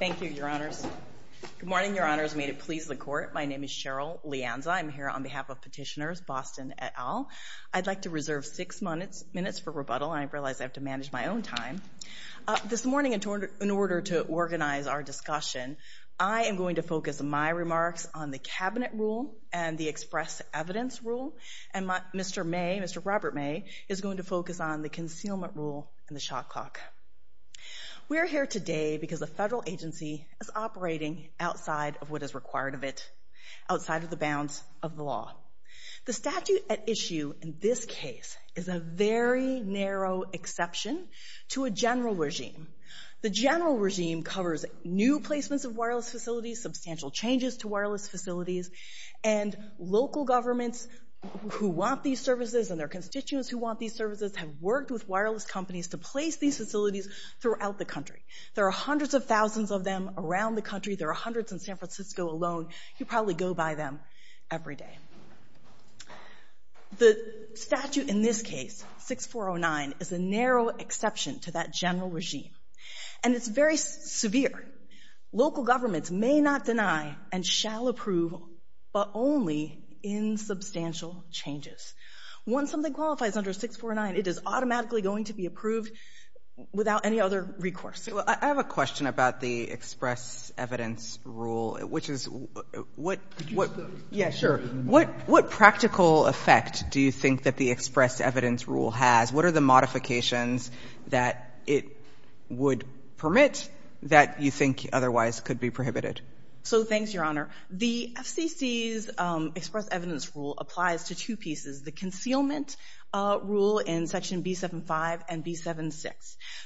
Thank you, your honors. Good morning, your honors. May it please the court. My name is Cheryl Lianza. I'm here on behalf of petitioners Boston et al. I'd like to reserve six minutes minutes for rebuttal. I realize I have to manage my own time this morning in order to organize our discussion. I am going to focus my remarks on the cabinet rule and the express evidence rule. And Mr. May, Mr. Robert May is going to focus on the concealment rule and the shot clock. We are here today because the federal agency is operating outside of what is required of it, outside of the bounds of the law. The statute at issue in this case is a very narrow exception to a general regime. The general regime covers new placements of wireless facilities, substantial changes to wireless facilities, and local governments who want these services and their constituents who want these services have worked with wireless companies to place these facilities throughout the country. There are hundreds of thousands of them around the country. There are hundreds in San Francisco alone. You probably go by them every day. The statute in this case, 6409, is a narrow exception to that general regime. And it's very severe. Local governments may not deny and shall approve, but only in substantial changes. Once something qualifies under 6409, it is automatically going to be approved without any other recourse. I have a question about the express evidence rule, which is, what, what, yeah, sure. What, what practical effect do you think that the express evidence rule has? What are the modifications that it would permit that you think otherwise could be prohibited? So, thanks, Your Honor. The FCC's express evidence rule applies to two pieces. The concealment rule in section B75 and B76.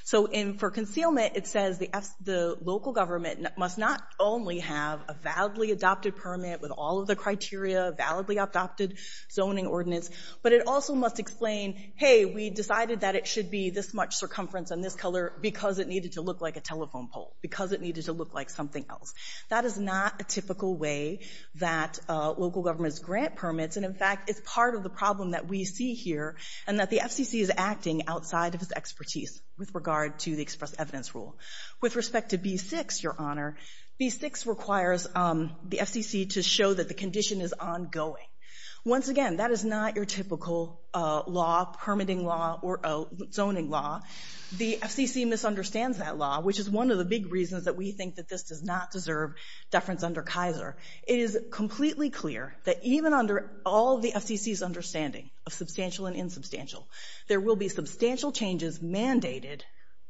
So, for concealment, it says the local government must not only have a validly adopted permit with all of the criteria, a validly adopted zoning ordinance, but it also must explain, hey, we decided that it should be this much circumference and this color because it needed to look like a telephone pole, because it needed to look like something else. That is not a typical way that local governments grant permits. And, in fact, it's part of the problem that we see here and that the FCC is acting outside of its expertise with regard to the express evidence rule. With respect to B6, Your Honor, B6 requires the FCC to show that the condition is ongoing. Once again, that is not your typical law, permitting law or zoning law. The FCC misunderstands that law, which is one of the big reasons that we think that this does not deserve deference under Kaiser. It is completely clear that even under all the FCC's understanding of substantial and insubstantial, there will be substantial changes mandated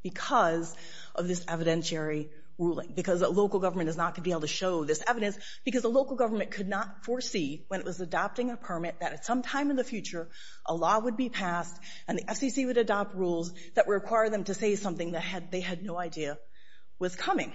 because of this evidentiary ruling, because the local government is not going to be able to show this evidence, because the local government could not foresee when it was adopting a permit that at some time in the future, a law would be passed and the FCC would adopt rules that would require them to say something that they had no idea was coming.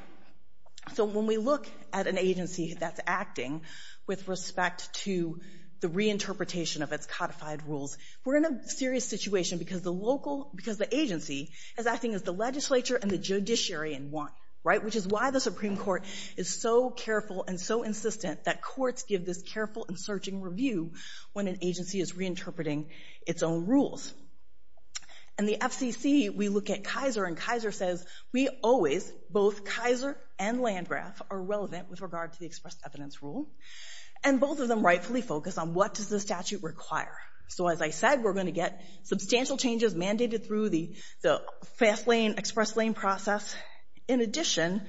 So when we look at an agency that's acting with respect to the reinterpretation of its codified rules, we're in a serious situation because the agency is acting as the legislature and the judiciary in one, right? Which is why the Supreme Court is so careful and so insistent that courts give this careful and searching review when an agency is reinterpreting its own rules. In the FCC, we look at Kaiser and Kaiser says, we always, both Kaiser and Landgraf are relevant with regard to the express evidence rule and both of them rightfully focus on what does the statute require. So as I said, we're going to get substantial changes mandated through the express lane process. In addition,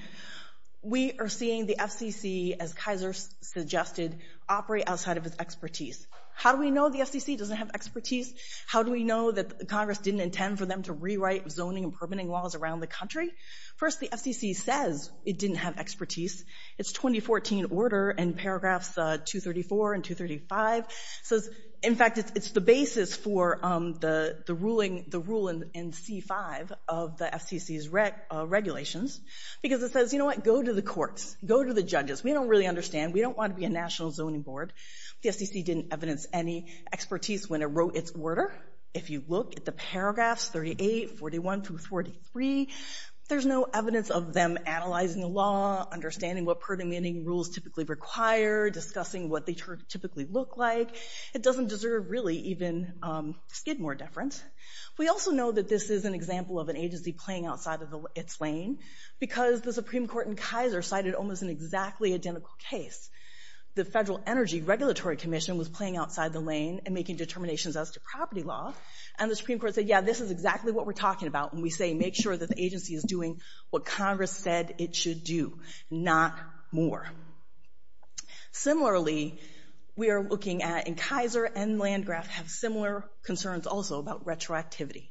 we are seeing the FCC, as Kaiser suggested, operate outside of its expertise. How do we know the FCC doesn't have expertise? How do we know that Congress didn't intend for them to rewrite zoning and permitting laws around the country? First, the FCC says it didn't have expertise. It's 2014 order and paragraphs 234 and 235. So in fact, it's the basis for the ruling, the rule in C5 of the FCC's regulations, because it says, you know what, go to the courts, go to the judges, we don't really understand. We don't want to be a national zoning board. The FCC didn't evidence any expertise when it wrote its order. If you look at the paragraphs 38, 41 through 43, there's no evidence of them analyzing the law, understanding what permitting rules typically require, discussing what they typically look like. It doesn't deserve really even skid more deference. We also know that this is an example of an agency playing outside of its lane, because the Supreme Court in Kaiser cited almost an exactly identical case. The Federal Energy Regulatory Commission was playing outside the lane and making determinations as to property law. And the Supreme Court said, yeah, this is exactly what we're talking about. And we say, make sure that the agency is doing what Congress said it should do, not more. Similarly, we are looking at in Kaiser and Landgraf have similar concerns also about retroactivity.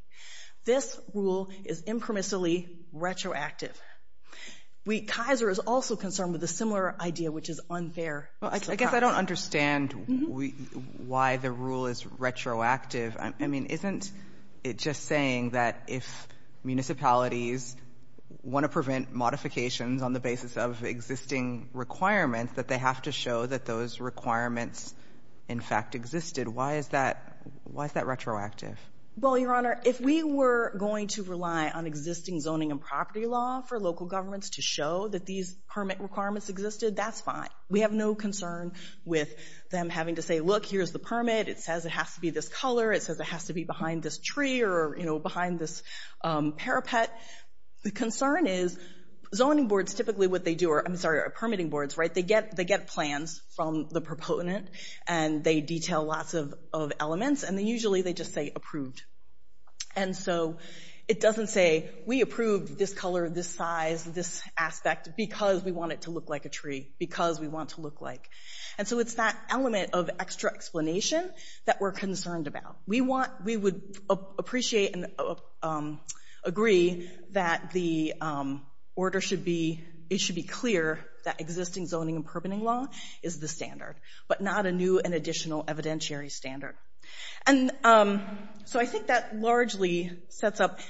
This rule is impermissibly retroactive. Kaiser is also concerned with a similar idea, which is unfair. I guess I don't understand why the rule is retroactive. I mean, isn't it just saying that if municipalities want to prevent modifications on the basis of existing requirements, that they have to show that those requirements in fact existed? Why is that retroactive? Well, Your Honor, if we were going to rely on existing zoning and property law for local governments to show that these permit requirements existed, that's fine. We have no concern with them having to say, look, here's the permit. It says it has to be this color. It says it has to be behind this tree or behind this parapet. The concern is zoning boards typically what they do are, I'm sorry, are permitting boards, right? They get plans from the proponent and they detail lots of elements. And then usually they just say approved. And so it doesn't say we approved this color, this size, this aspect, because we want it to look like a tree, because we want it to look like. And so it's that element of extra explanation that we're concerned about. We would appreciate and agree that the order should be, it should be clear that existing zoning and permitting law is the standard, but not a new and additional evidentiary standard. And so I think that largely sets up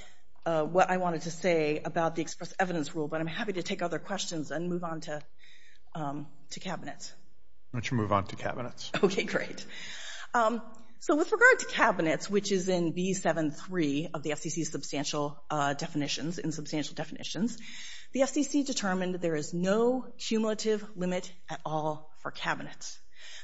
what I wanted to say about the express evidence rule, but I'm happy to take other questions and move on to cabinets. Why don't you move on to cabinets? Okay, great. So with regard to cabinets, which is in B7-3 of the FCC's substantial definitions, in substantial definitions, the FCC determined that there is no cumulative limit at all for cabinets.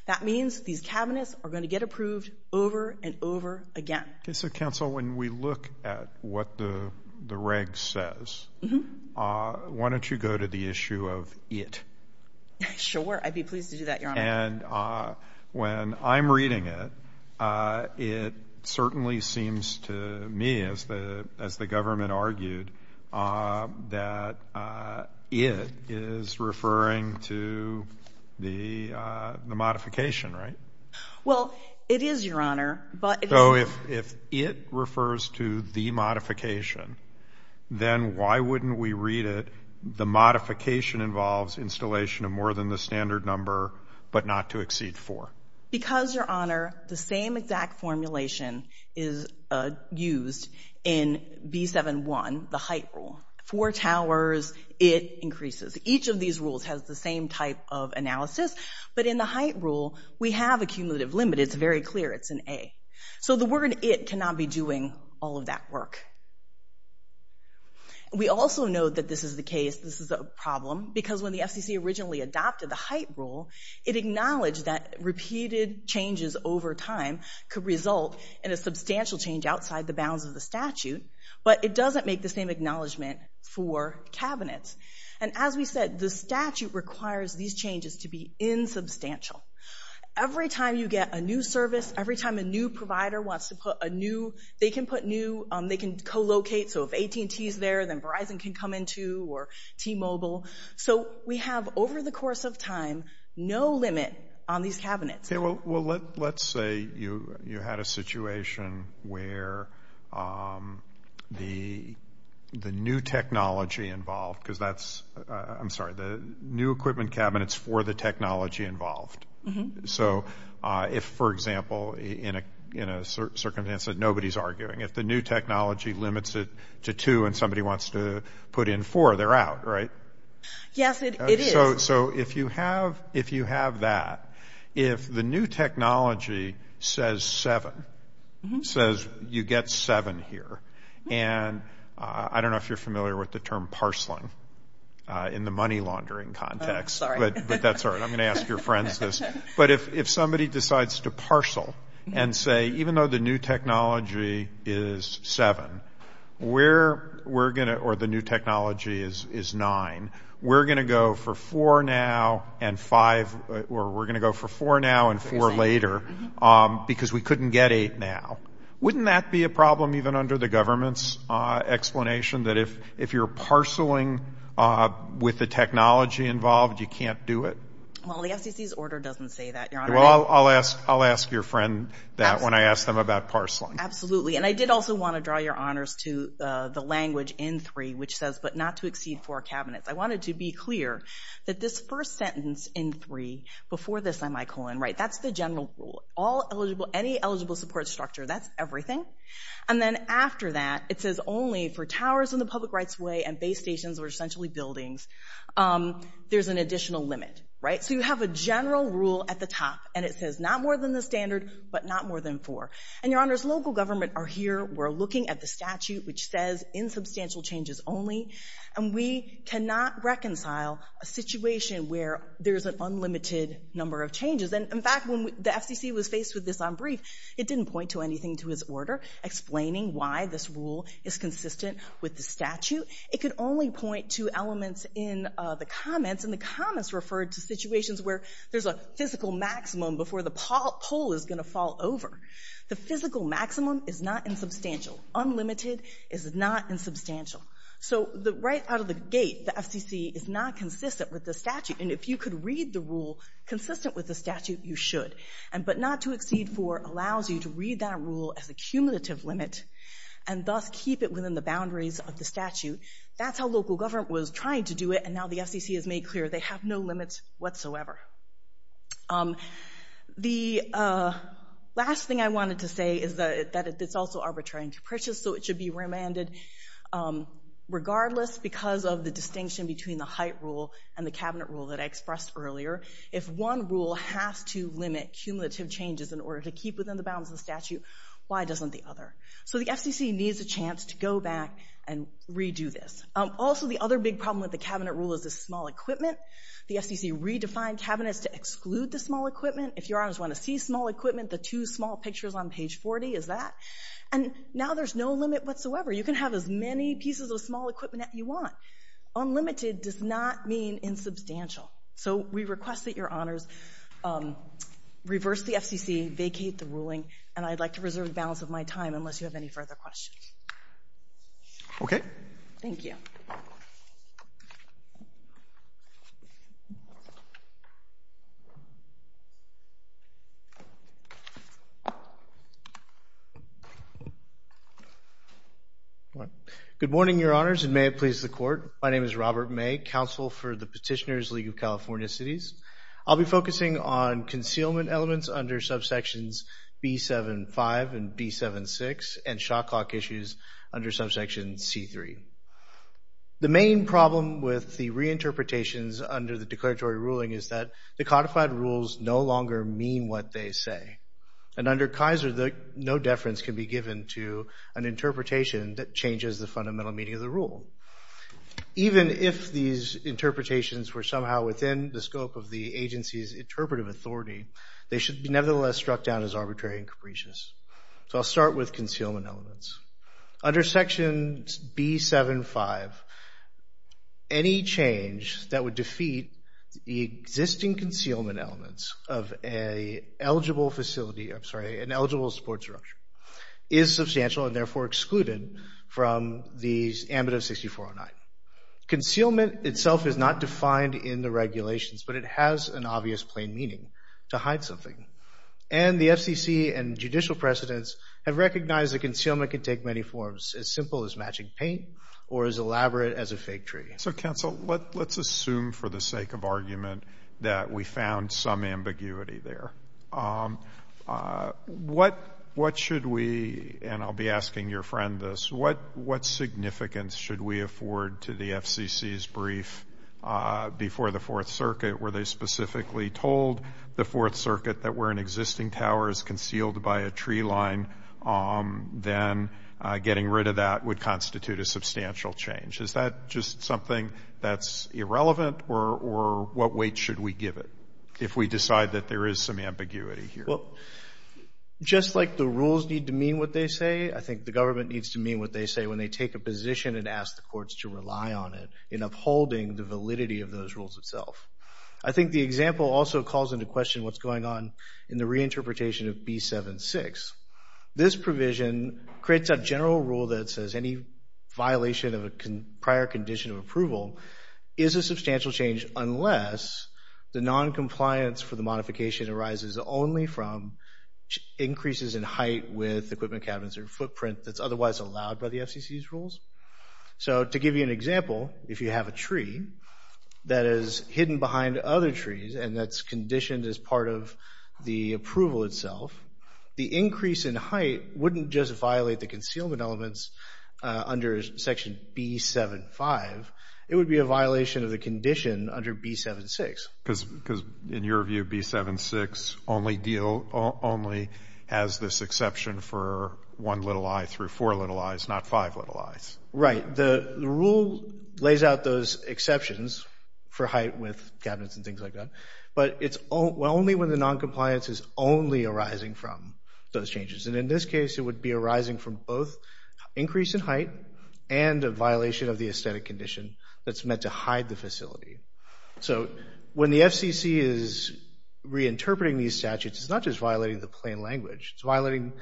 That means these cabinets are going to get approved over and over again. Okay, so, counsel, when we look at what the reg says, why don't you go to the issue of it? Sure, I'd be pleased to do that, Your Honor. And when I'm reading it, it certainly seems to me, as the government argued, that it is referring to the modification, right? Well, it is, Your Honor, but... So if it refers to the modification, then why wouldn't we read it, the modification involves installation of more than the standard number, but not to exceed four? Because, Your Honor, the same exact formulation is used in B7-1, the height rule. Four towers, it increases. Each of these rules has the same type of analysis, but in the height rule, we have a cumulative limit. It's very clear. It's an A. So the word it cannot be doing all of that work. We also know that this is the case, this is a problem, because when the FCC originally adopted the height rule, it acknowledged that repeated changes over time could result in a substantial change outside the bounds of the statute, but it doesn't make the same acknowledgement for cabinets. And as we said, the statute requires these changes to be insubstantial. Every time you get a new service, every time a new provider wants to put a new, they can put new, they can co-locate. So if AT&T is there, then Verizon can come in, too, or T-Mobile. So we have, over the course of time, no limit on these cabinets. Okay, well, let's say you had a situation where the new technology involved, because that's, I'm sorry, the new equipment cabinets for the technology involved. So if, for example, in a circumstance that nobody's arguing, if the new technology limits it to two and somebody wants to put in four, they're out, right? Yes, it is. So if you have that, if the new technology says seven, says you get seven here, and I don't know if you're familiar with the term parceling in the money laundering context, but that's all right. I'm going to ask your friends this. But if somebody decides to parcel and say, even though the new technology is seven, we're going to, or the new technology is nine, we're going to go for four now and five, or we're going to go for four now and four later because we couldn't get eight now. Wouldn't that be a problem even under the government's explanation that if you're parceling with the technology involved, you can't do it? Well, the FCC's order doesn't say that, Your Honor. Well, I'll ask your friend that when I ask them about parceling. Absolutely, and I did also want to draw your honors to the language in three, which says, but not to exceed four cabinets. I wanted to be clear that this first sentence in three, before the semicolon, right, that's the general rule. All eligible, any eligible support structure, that's everything. And then after that, it says only for towers and the public rights way and base stations or essentially buildings, there's an additional limit, right? So you have a general rule at the top, and it says not more than the standard, but not more than four. And, Your Honors, local government are here. We're looking at the statute, which says insubstantial changes only, and we cannot reconcile a situation where there's an unlimited number of changes. And, in fact, when the FCC was faced with this on brief, it didn't point to anything to his order explaining why this rule is consistent with the statute. It could only point to elements in the comments, and the comments referred to situations where there's a physical maximum before the pole is going to fall over. The physical maximum is not insubstantial. Unlimited is not insubstantial. So right out of the gate, the FCC is not consistent with the statute. And if you could read the rule consistent with the statute, you should. But not to exceed four allows you to read that rule as a cumulative limit and thus keep it within the boundaries of the statute. That's how local government was trying to do it, and now the FCC has made clear they have no limits whatsoever. The last thing I wanted to say is that it's also arbitrary and capricious, so it should be remanded. Regardless, because of the distinction between the height rule and the cabinet rule that I expressed earlier, if one rule has to limit cumulative changes in order to keep within the bounds of the statute, why doesn't the other? So the FCC needs a chance to go back and redo this. Also, the other big problem with the cabinet rule is the small equipment. The FCC redefined cabinets to exclude the small equipment. If your honors want to see small equipment, the two small pictures on page 40 is that. And now there's no limit whatsoever. You can have as many pieces of small equipment as you want. Unlimited does not mean insubstantial. So we request that your honors reverse the FCC, vacate the ruling, and I'd like to reserve the balance of my time unless you have any further questions. Okay. Thank you. Good morning, your honors, and may it please the court. My name is Robert May, counsel for the Petitioners League of California Cities. I'll be focusing on concealment elements under subsections B-7-5 and B-7-6 and shot clock issues under subsection C-3. The main problem with the reinterpretations under the declaratory ruling is that the codified rules no longer mean what they say. And under Kaiser, no deference can be given to an interpretation that changes the fundamental meaning of the rule. Even if these interpretations were somehow within the scope of the agency's interpretive authority, they should be nevertheless struck down as arbitrary and capricious. So I'll start with concealment elements. Under section B-7-5, any change that would defeat the existing concealment elements of an eligible facility, I'm sorry, an eligible support structure, is substantial and therefore excluded from the amendment of 6409. Concealment itself is not defined in the regulations, but it has an obvious plain meaning. It's not defined to hide something. And the FCC and judicial precedents have recognized that concealment can take many forms, as simple as matching paint or as elaborate as a fake tree. So, counsel, let's assume for the sake of argument that we found some ambiguity there. What should we, and I'll be asking your friend this, what significance should we afford to the FCC's brief before the Fourth Circuit where they specifically told the Fourth Circuit that where an existing tower is concealed by a tree line, then getting rid of that would constitute a substantial change? Is that just something that's irrelevant? Or what weight should we give it if we decide that there is some ambiguity here? Well, just like the rules need to mean what they say, I think the government needs to mean what they say when they take a position and ask the courts to rely on it in upholding the validity of those rules itself. I think the example also calls into question what's going on in the reinterpretation of B-7-6. This provision creates a general rule that says any violation of a prior condition of approval is a substantial change unless the noncompliance for the modification arises only from increases in height with equipment cabinets or footprint that's otherwise allowed by the FCC's rules. So, to give you an example, if you have a tree that is hidden behind other trees and that's conditioned as part of the approval itself, the increase in height wouldn't just violate the concealment elements under Section B-7-5. It would be a violation of the condition under B-7-6. Because in your view, B-7-6 only has this exception for one little eye through four little eyes, not five little eyes. Right. The rule lays out those exceptions for height with cabinets and things like that, but it's only when the noncompliance is only arising from those changes. And in this case, it would be arising from both increase in height and a violation of the aesthetic condition that's meant to hide the facility. So, when the FCC is reinterpreting these statutes, it's not just violating the plain language. It's violating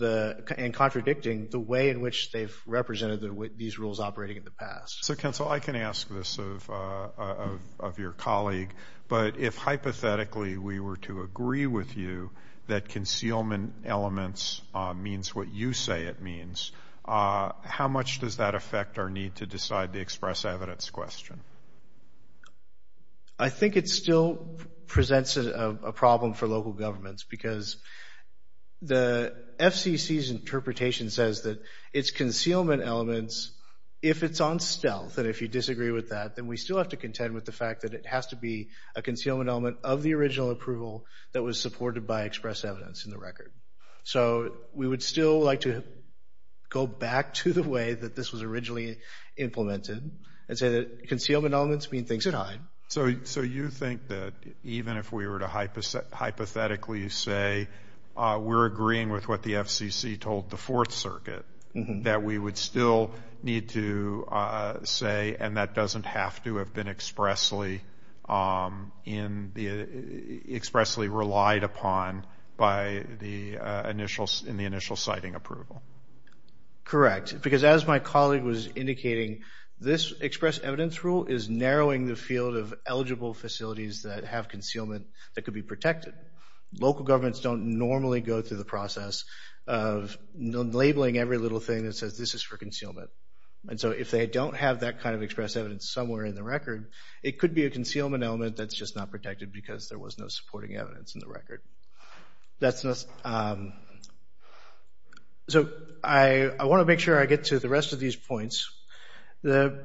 and contradicting the way in which they've represented these rules operating in the past. So, Counsel, I can ask this of your colleague, but if, hypothetically, we were to agree with you that concealment elements means what you say it means, how much does that affect our need to decide the express evidence question? I think it still presents a problem for local governments because the FCC's interpretation says that it's concealment elements, if it's on stealth, and if you disagree with that, then we still have to contend with the fact that it has to be a concealment element of the original approval that was supported by express evidence in the record. So, we would still like to go back to the way that this was originally implemented and say that concealment elements mean things that hide. So, you think that even if we were to hypothetically say, we're agreeing with what the FCC told the Fourth Circuit, that we would still need to say, and that doesn't have to have been expressly relied upon by the initial citing approval? Correct, because as my colleague was indicating, this express evidence rule is narrowing the field of eligible facilities that have concealment that could be protected. Local governments don't normally go through the process of labeling every little thing that says, this is for concealment. And so, if they don't have that kind of express evidence somewhere in the record, it could be a concealment element that's just not protected because there was no supporting evidence in the record. That's not... So, I want to make sure I get to the rest of these points. The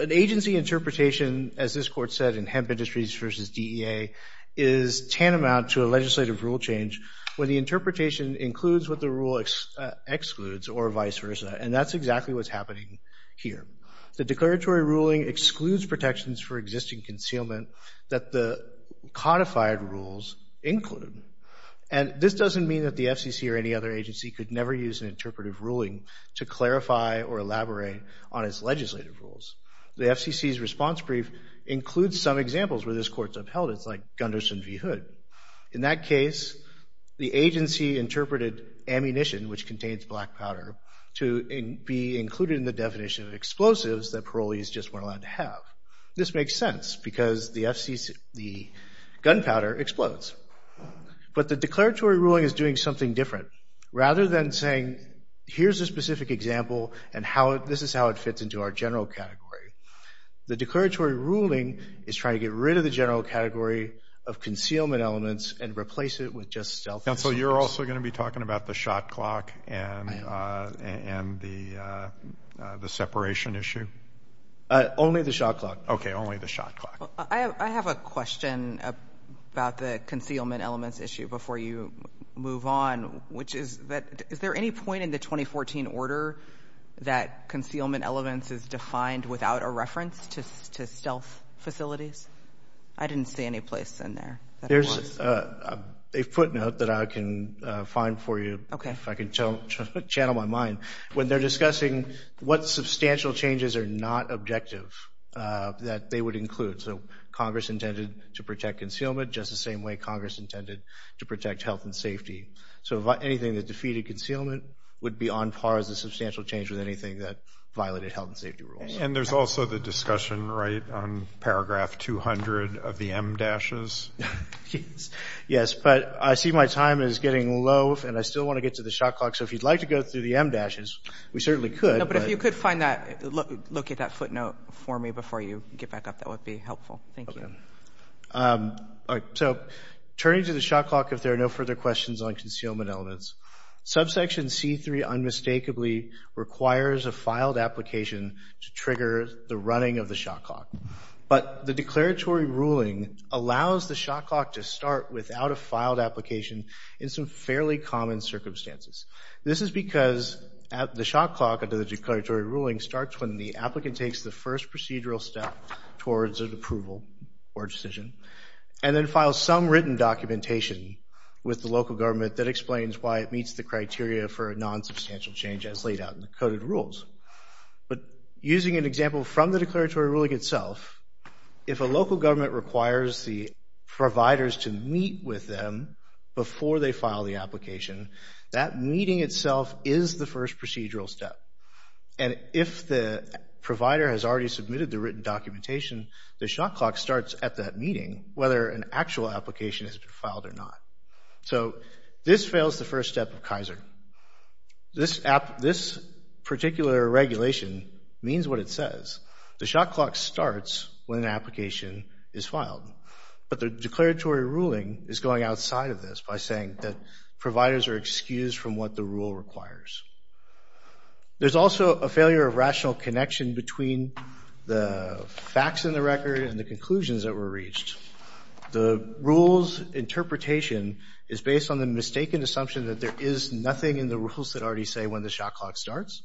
agency interpretation, as this court said, in Hemp Industries versus DEA, is tantamount to a legislative rule change where the interpretation includes what the rule excludes or vice versa. And that's exactly what's happening here. The declaratory ruling excludes protections for existing concealment that the codified rules include. And this doesn't mean that the FCC or any other agency could never use an interpretive ruling to clarify or elaborate on its legislative rules. The FCC's response brief includes some examples where this court's upheld. It's like Gunderson v. Hood. In that case, the agency interpreted ammunition, which contains black powder, to be included in the definition of explosives that parolees just weren't allowed to have. This makes sense because the gunpowder explodes. But the declaratory ruling is doing something different. Rather than saying, here's a specific example and this is how it fits into our general category, the declaratory ruling is trying to get rid of the general category of concealment elements and replace it with just stealth. And so you're also going to be talking about the shot clock and the separation issue? Only the shot clock. Okay, only the shot clock. I have a question about the concealment elements issue before you move on. Is there any point in the 2014 order that concealment elements is defined without a reference to stealth facilities? I didn't see any place in there. There's a footnote that I can find for you, if I can channel my mind. When they're discussing what substantial changes are not objective that they would include. So Congress intended to protect concealment just the same way Congress intended to protect health and safety. So anything that defeated concealment would be on par as a substantial change with anything that violated health and safety rules. And there's also the discussion, right, on paragraph 200 of the M-dashes? Yes, but I see my time is getting low and I still want to get to the shot clock. So if you'd like to go through the M-dashes, we certainly could. No, but if you could find that, locate that footnote for me before you get back up, that would be helpful. Thank you. So turning to the shot clock, if there are no further questions on concealment elements, subsection C-3 unmistakably requires a filed application to trigger the running of the shot clock. But the declaratory ruling allows the shot clock to start without a filed application in some fairly common circumstances. This is because the shot clock under the declaratory ruling starts when the applicant takes the first procedural step towards an approval or decision and then files some written documentation with the local government that explains why it meets the criteria for a nonsubstantial change as laid out in the coded rules. But using an example from the declaratory ruling itself, if a local government requires the providers to meet with them before they file the application, that meeting itself is the first procedural step. And if the provider has already submitted the written documentation, the shot clock starts at that meeting whether an actual application has been filed or not. So this fails the first step of Kaiser. This particular regulation means what it says. The shot clock starts when an application is filed. But the declaratory ruling is going outside of this by saying that providers are excused from what the rule requires. There's also a failure of rational connection between the facts in the record and the conclusions that were reached. The rule's interpretation is based on the mistaken assumption that there is nothing in the rules that already say when the shot clock starts.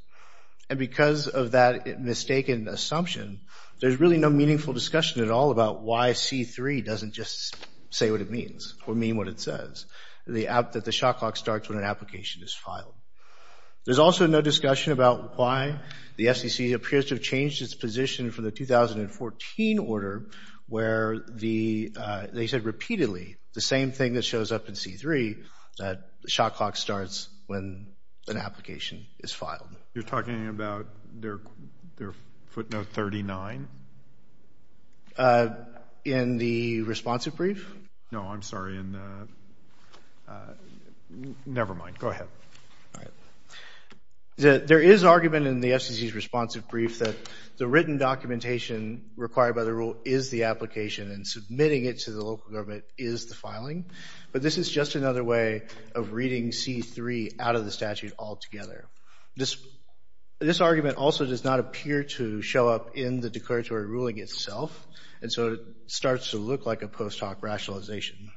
And because of that mistaken assumption, there's really no meaningful discussion at all about why C3 doesn't just say what it means or mean what it says, that the shot clock starts when an application is filed. There's also no discussion about why the FCC appears to have changed its position for the 2014 order where they said repeatedly the same thing that shows up in C3, that the shot clock starts when an application is filed. You're talking about their footnote 39? In the responsive brief? No, I'm sorry. Nevermind, go ahead. All right. There is argument in the FCC's responsive brief that the written documentation required by the rule is the application and submitting it to the local government is the filing, but this is just another way of reading C3 out of the statute altogether. This argument also does not appear to show up in the declaratory ruling itself, and so it starts to look like a post hoc rationalization.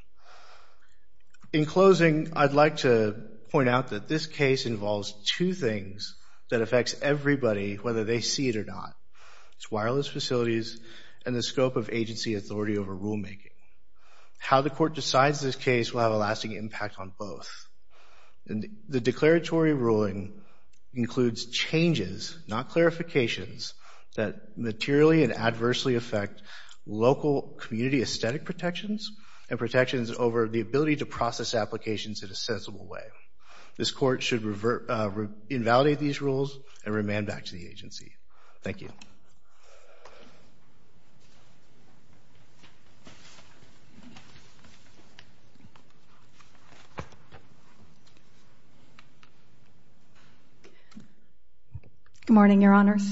In closing, I'd like to point out that this case involves two things that affects everybody whether they see it or not. It's wireless facilities and the scope of agency authority over rulemaking. How the court decides this case will have a lasting impact on both. And the declaratory ruling includes changes, not clarifications, that materially and adversely affect local community aesthetic protections and protections over the ability to process applications in a sensible way. This court should invalidate these rules and remand back to the agency. Thank you. Good morning, your honors,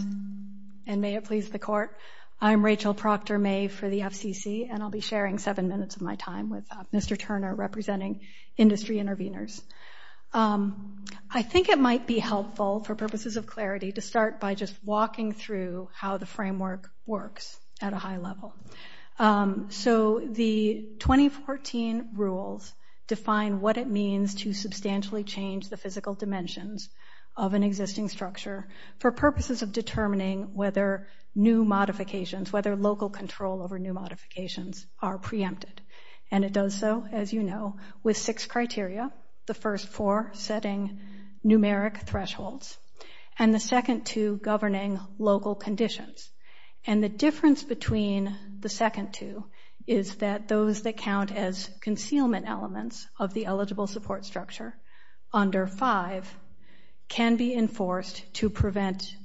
and may it please the court. I'm Rachel Proctor-May for the FCC, and I'll be sharing seven minutes of my time with Mr. Turner representing industry intervenors. I think it might be helpful for purposes of clarity to start by just walking through how the framework works at a high level. So the 2014 rules define what it means to substantially change the physical dimensions of an existing structure for purposes of determining whether new modifications, whether local control over new modifications, are preempted. And it does so, as you know, with six criteria, the first four setting numeric thresholds, and the second two governing local conditions. And the difference between the second two is that those that count as concealment elements of the eligible support structure under five can be enforced to prevent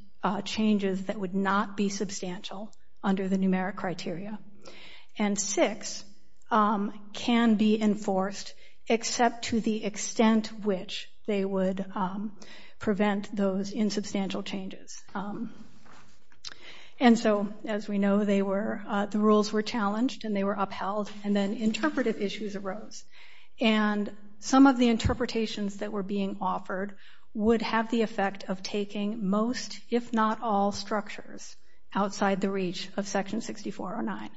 changes that would not be substantial under the numeric criteria. And six can be enforced except to the extent which they would prevent those insubstantial changes. And so, as we know, the rules were challenged and they were upheld, and then interpretive issues arose. And some of the interpretations that were being offered would have the effect of taking most, if not all structures outside the reach of section 6409.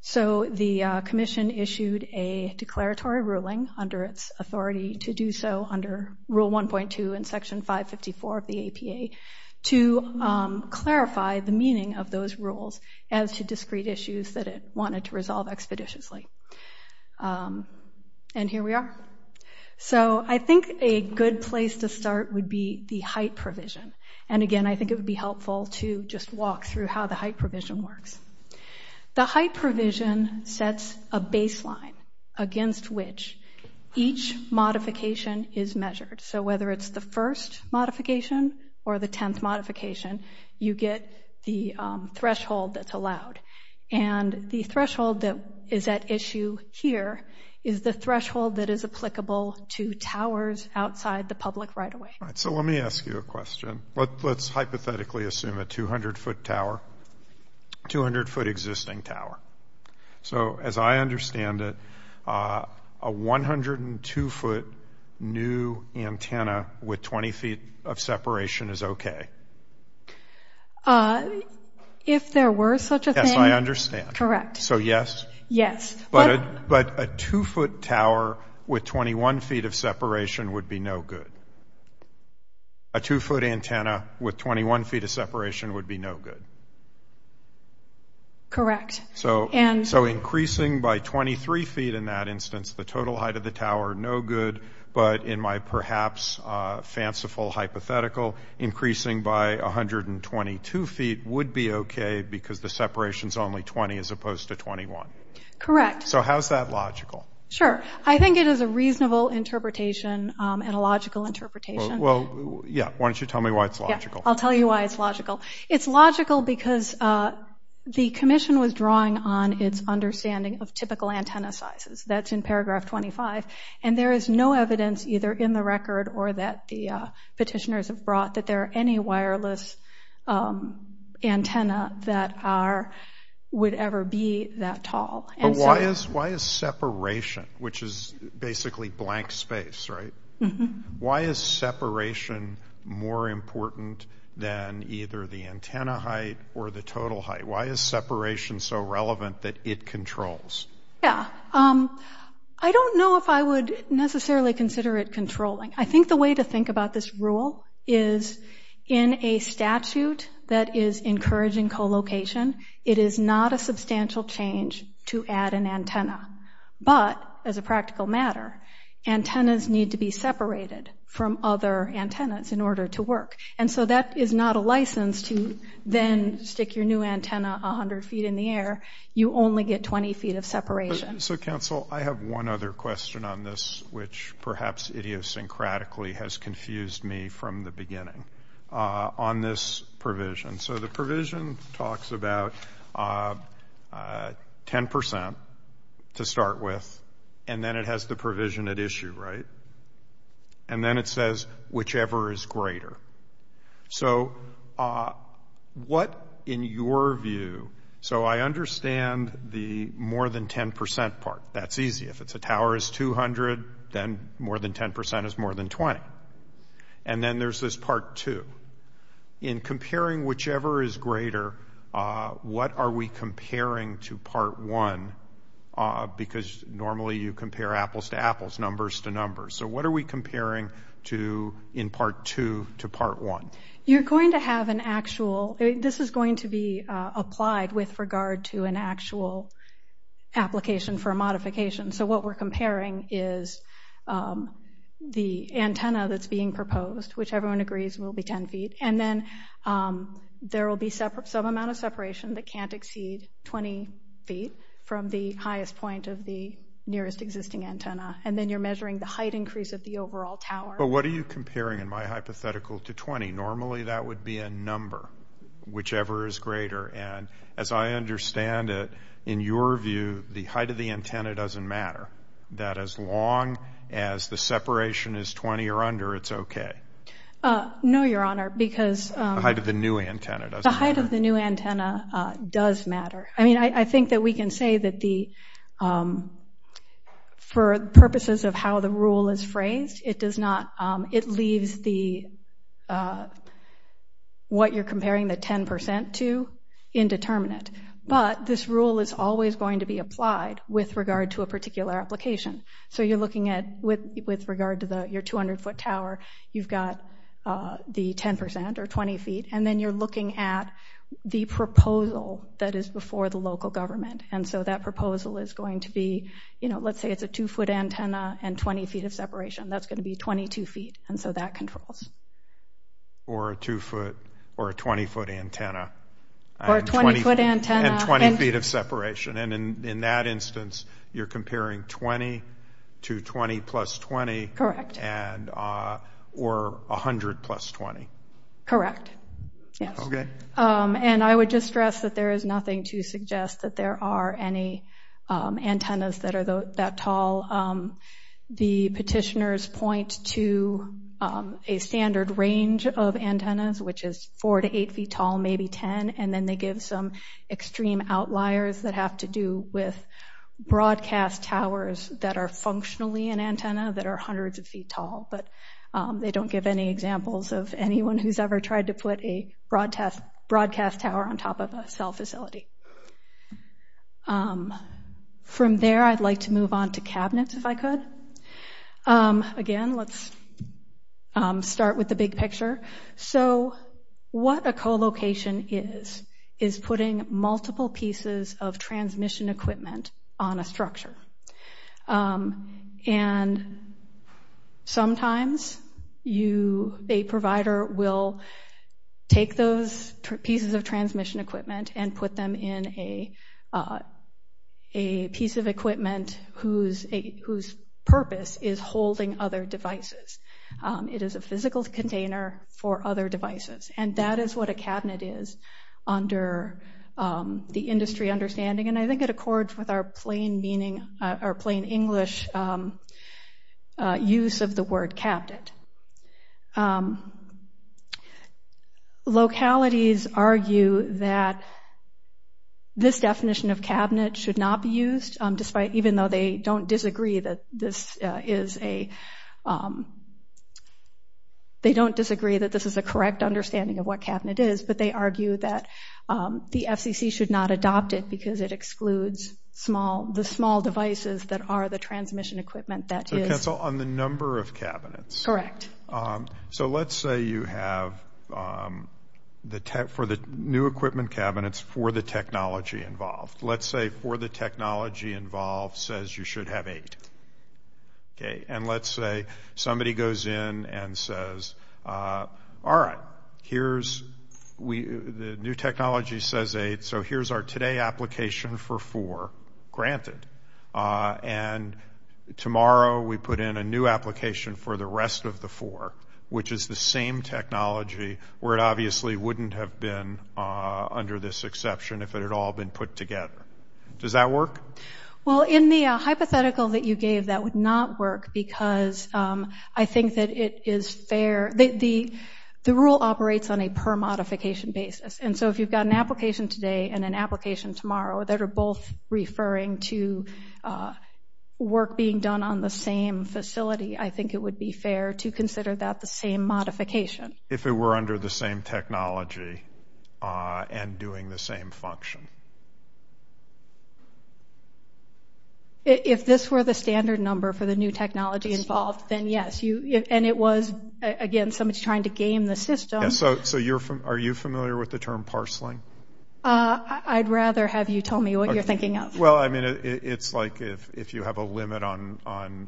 So the commission issued a declaratory ruling under its authority to do so under rule 1.2 and section 554 of the APA to clarify the meaning of those rules as to discrete issues that it wanted to resolve expeditiously. And here we are. So I think a good place to start would be the height provision. And again, I think it would be helpful to just walk through how the height provision works. The height provision sets a baseline against which each modification is measured. So whether it's the first modification or the 10th modification, you get the threshold that's allowed. And the threshold that is at issue here is the threshold that is applicable to towers outside the public right-of-way. All right, so let me ask you a question. Let's hypothetically assume a 200-foot tower, 200-foot existing tower. So as I understand it, a 102-foot new antenna with 20 feet of separation is okay. If there were such a thing? Yes, I understand. Correct. So yes? Yes. But a two-foot tower with 21 feet of separation would be no good. A two-foot antenna with 21 feet of separation would be no good. Correct. So increasing by 23 feet in that instance, the total height of the tower, no good. But in my perhaps fanciful hypothetical, increasing by 122 feet would be okay because the separation's only 20 as opposed to 21. Correct. So how's that logical? Sure, I think it is a reasonable interpretation and a logical interpretation. Yeah, why don't you tell me why it's logical? I'll tell you why it's logical. It's logical because the commission was drawing on its understanding of typical antenna sizes. That's in paragraph 25. And there is no evidence either in the record or that the petitioners have brought that there are any wireless antenna that would ever be that tall. But why is separation, which is basically blank space, right? Why is separation more important than either the antenna height or the total height? Why is separation so relevant that it controls? Yeah, I don't know if I would necessarily consider it controlling. I think the way to think about this rule is in a statute that is encouraging co-location, it is not a substantial change to add an antenna. But as a practical matter, antennas need to be separated from other antennas in order to work. And so that is not a license to then stick your new antenna 100 feet in the air. You only get 20 feet of separation. So counsel, I have one other question on this, which perhaps idiosyncratically has confused me from the beginning on this provision. So the provision talks about 10% to start with, and then it has the provision at issue, right? And then it says, whichever is greater. So what, in your view, so I understand the more than 10% part. That's easy. If it's a tower is 200, then more than 10% is more than 20. And then there's this part two. In comparing whichever is greater, what are we comparing to part one? Because normally you compare apples to apples, numbers to numbers. So what are we comparing to in part two to part one? You're going to have an actual, this is going to be applied with regard to an actual application for a modification. So what we're comparing is the antenna that's being proposed, which everyone agrees will be 10 feet. And then there will be some amount of separation that can't exceed 20 feet from the highest point of the nearest existing antenna. And then you're measuring the height increase of the overall tower. But what are you comparing in my hypothetical to 20? Normally that would be a number, whichever is greater. And as I understand it, in your view, the height of the antenna doesn't matter. That as long as the separation is 20 or under, it's okay. No, Your Honor, because- The height of the new antenna doesn't matter. The height of the new antenna does matter. I mean, I think that we can say that the, for purposes of how the rule is phrased, it does not, it leaves the, what you're comparing the 10% to indeterminate. But this rule is always going to be applied with regard to a particular application. So you're looking at, with regard to your 200 foot tower, you've got the 10% or 20 feet. And then you're looking at the proposal that is before the local government. And so that proposal is going to be, let's say it's a two foot antenna and 20 feet of separation. That's going to be 22 feet. And so that controls. Or a two foot or a 20 foot antenna. Or a 20 foot antenna. And 20 feet of separation. And in that instance, you're comparing 20 to 20 plus 20. Correct. Or 100 plus 20. Correct. Yes. Okay. And I would just stress that there is nothing to suggest that there are any antennas that are that tall. The petitioners point to a standard range of antennas, which is four to eight feet tall, maybe 10. And then they give some extreme outliers that have to do with broadcast towers that are functionally an antenna that are hundreds of feet tall. But they don't give any examples of anyone who's ever tried to put a broadcast tower on top of a cell facility. From there, I'd like to move on to cabinets if I could. Again, let's start with the big picture. So what a co-location is, is putting multiple pieces of transmission equipment on a structure. And sometimes a provider will take those pieces of transmission equipment and put them in a piece of equipment whose purpose is holding other devices. It is a physical container for other devices. And that is what a cabinet is under the industry understanding. And I think it accords with our plain meaning, our plain English use of the word cabinet. Localities argue that this definition of cabinet should not be used, even though they don't disagree that this is a, they don't disagree that this is a correct understanding of what cabinet is, but they argue that the FCC should not adopt it because it excludes the small devices that are the transmission equipment that is. So cancel on the number of cabinets. Correct. So let's say you have, for the new equipment cabinets, for the technology involved. Let's say for the technology involved says you should have eight. Okay, and let's say somebody goes in and says, all right, here's, the new technology says eight, so here's our today application for four, granted. And tomorrow we put in a new application for the rest of the four, which is the same technology where it obviously wouldn't have been under this exception if it had all been put together. Does that work? Well, in the hypothetical that you gave, that would not work because I think that it is fair. The rule operates on a per modification basis. And so if you've got an application today and an application tomorrow that are both referring to work being done on the same facility, I think it would be fair to consider that the same modification. If it were under the same technology and doing the same function. If this were the standard number for the new technology involved, then yes. And it was, again, somebody's trying to game the system. So you're from, are you familiar with the term parceling? I'd rather have you tell me what you're thinking of. Well, I mean, it's like if you have a limit on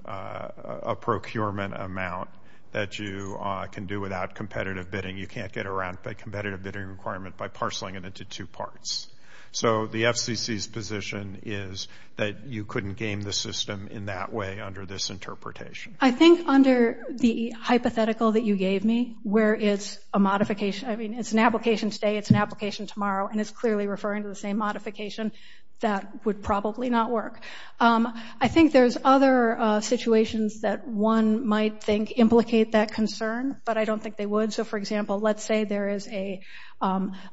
a procurement amount that you can do without competitive bidding, you can't get around a competitive bidding requirement by parceling it into two parts. So the FCC's position is that you couldn't game the system in that way under this interpretation. I think under the hypothetical that you gave me where it's a modification, I mean, it's an application today, it's an application tomorrow, and it's clearly referring to the same modification, that would probably not work. I think there's other situations that one might think implicate that concern, but I don't think they would. So for example, let's say there is a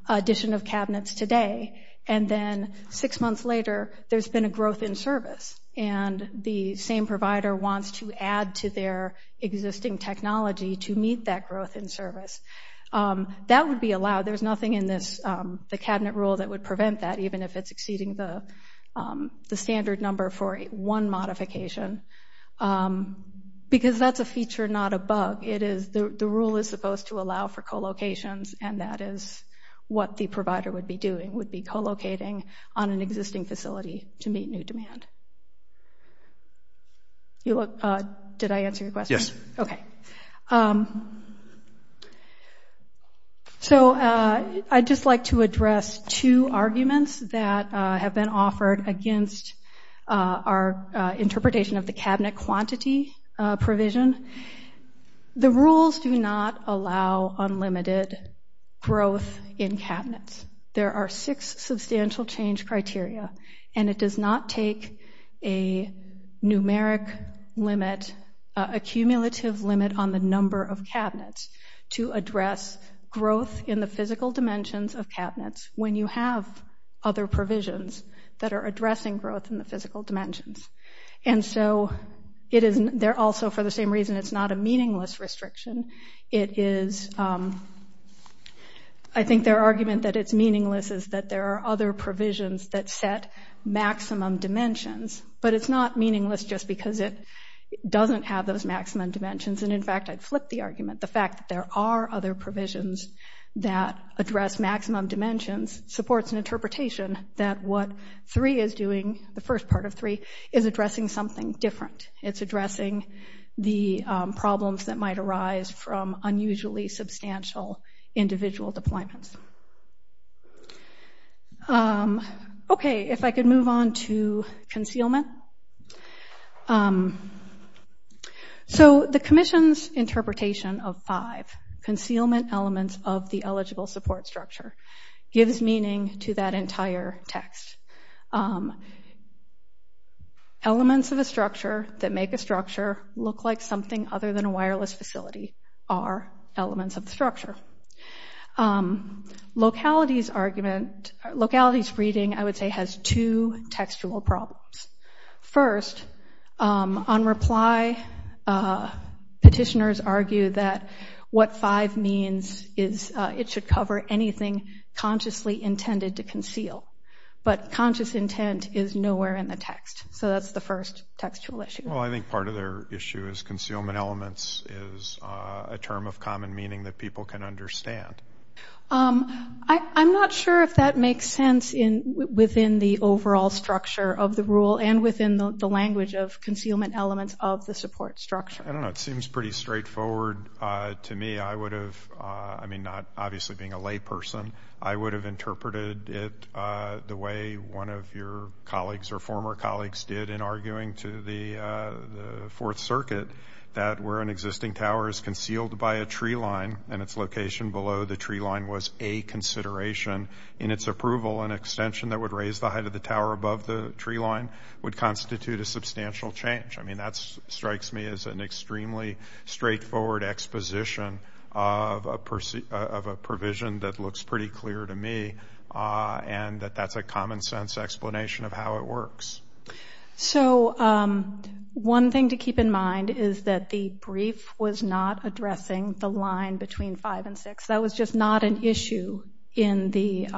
addition of cabinets today, and then six months later, there's been a growth in service. And the same provider wants to add to their existing technology to meet that growth in service. That would be allowed. There's nothing in the cabinet rule that would prevent that, even if it's exceeding the standard number for one modification. Because that's a feature, not a bug. The rule is supposed to allow for co-locations, and that is what the provider would be doing, would be co-locating on an existing facility to meet new demand. You look, did I answer your question? Yes. Okay. So I'd just like to address two arguments that have been offered against our interpretation of the cabinet quantity provision. The rules do not allow unlimited growth in cabinets. There are six substantial change criteria, and it does not take a numeric limit, a cumulative limit on the number of cabinets to address growth in the physical dimensions of cabinets when you have other provisions that are addressing growth in the physical dimensions. And so, they're also, for the same reason, it's not a meaningless restriction. I think their argument that it's meaningless is that there are other provisions that set maximum dimensions, but it's not meaningless just because it doesn't have those maximum dimensions. And in fact, I'd flip the argument. The fact that there are other provisions that address maximum dimensions supports an interpretation that what 3 is doing, the first part of 3, is addressing something different. It's addressing the problems that might arise from unusually substantial individual deployments. Okay, if I could move on to concealment. So, the commission's interpretation of 5, concealment elements of the eligible support structure, gives meaning to that entire text. Elements of a structure that make a structure look like something other than a wireless facility are elements of the structure. Locality's reading, I would say, has two textual problems. First, on reply, petitioners argue that what 5 means is it should cover anything consciously intended to conceal. But conscious intent is nowhere in the text. So, that's the first textual issue. Well, I think part of their issue is concealment elements is a term of common meaning that people can understand. I'm not sure if that makes sense within the overall structure of the rule and within the language of concealment elements of the support structure. I don't know, it seems pretty straightforward to me. I would have, I mean, not obviously being a layperson, I would have interpreted it the way one of your colleagues or former colleagues did in arguing to the Fourth Circuit that where an existing tower is concealed by a tree line and its location below the tree line was a consideration, in its approval, an extension that would raise the height of the tower above the tree line would constitute a substantial change. I mean, that strikes me as an extremely straightforward exposition of a provision that looks pretty clear to me and that that's a common sense explanation of how it works. So one thing to keep in mind is that the brief was not addressing the line between five and six. That was just not an issue in the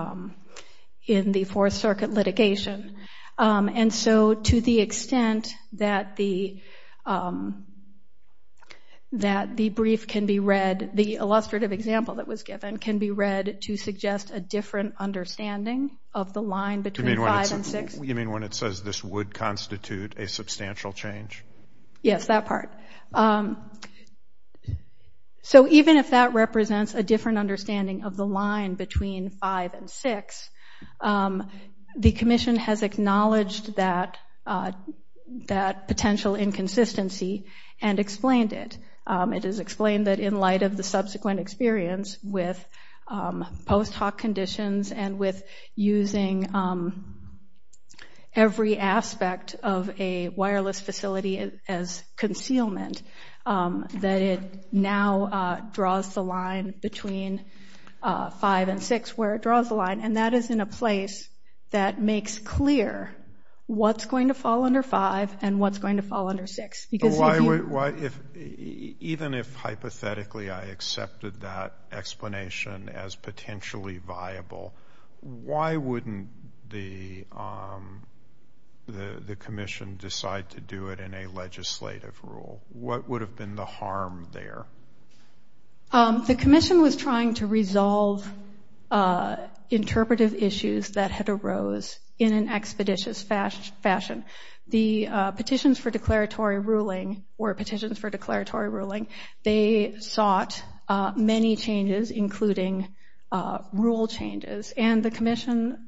Fourth Circuit litigation. And so to the extent that the brief can be read, the illustrative example that was given can be read to suggest a different understanding of the line between five and six. You mean when it says this would constitute a substantial change? Yes, that part. So even if that represents a different understanding of the line between five and six, the commission has acknowledged that potential inconsistency and explained it. It is explained that in light of the subsequent experience with post hoc conditions and with using every aspect of a wireless facility as concealment, that it now draws the line between five and six where it draws the line. And that is in a place that makes clear what's going to fall under five and what's going to fall under six. Because if you- Even if hypothetically I accepted that explanation as potentially viable, why wouldn't the commission decide to do it in a legislative rule? What would have been the harm there? The commission was trying to resolve interpretive issues that had arose in an expeditious fashion. The petitions for declaratory ruling or petitions for declaratory ruling, they sought many changes including rule changes and the commission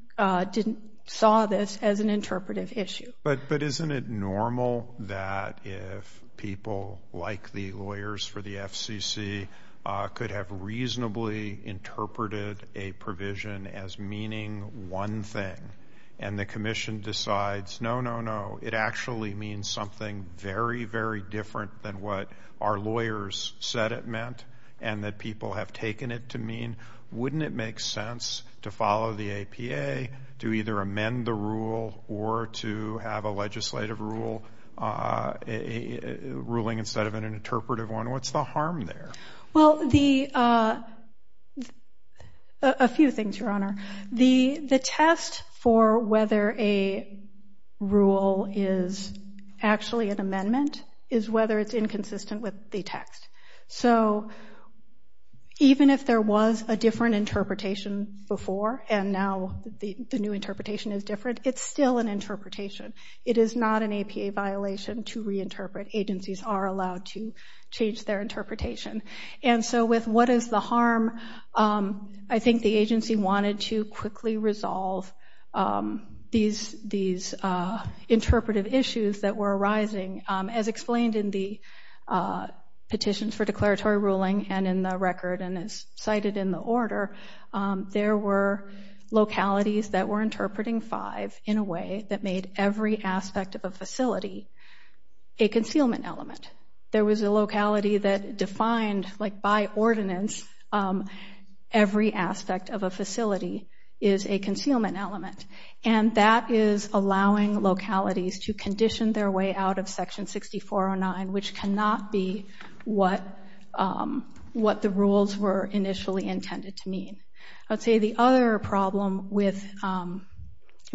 saw this as an interpretive issue. But isn't it normal that if people like the lawyers for the FCC could have reasonably interpreted a provision as meaning one thing and the commission decides, no, no, no, it actually means something very, very different than what our lawyers said it meant and that people have taken it to mean, wouldn't it make sense to follow the APA to either amend the rule or to have a legislative ruling instead of an interpretive one? What's the harm there? Well, a few things, Your Honor. The test for whether a rule is actually an amendment is whether it's inconsistent with the text. So even if there was a different interpretation before and now the new interpretation is different, it's still an interpretation. It is not an APA violation to reinterpret. Agencies are allowed to change their interpretation. And so with what is the harm, I think the agency wanted to quickly resolve these interpretive issues that were arising as explained in the petitions for declaratory ruling and in the record and as cited in the order, there were localities that were interpreting five in a way that made every aspect of a facility a concealment element. There was a locality that defined like by ordinance every aspect of a facility is a concealment element and that is allowing localities to condition their way out of section 6409, which cannot be what the rules were initially intended to mean. I'd say the other problem with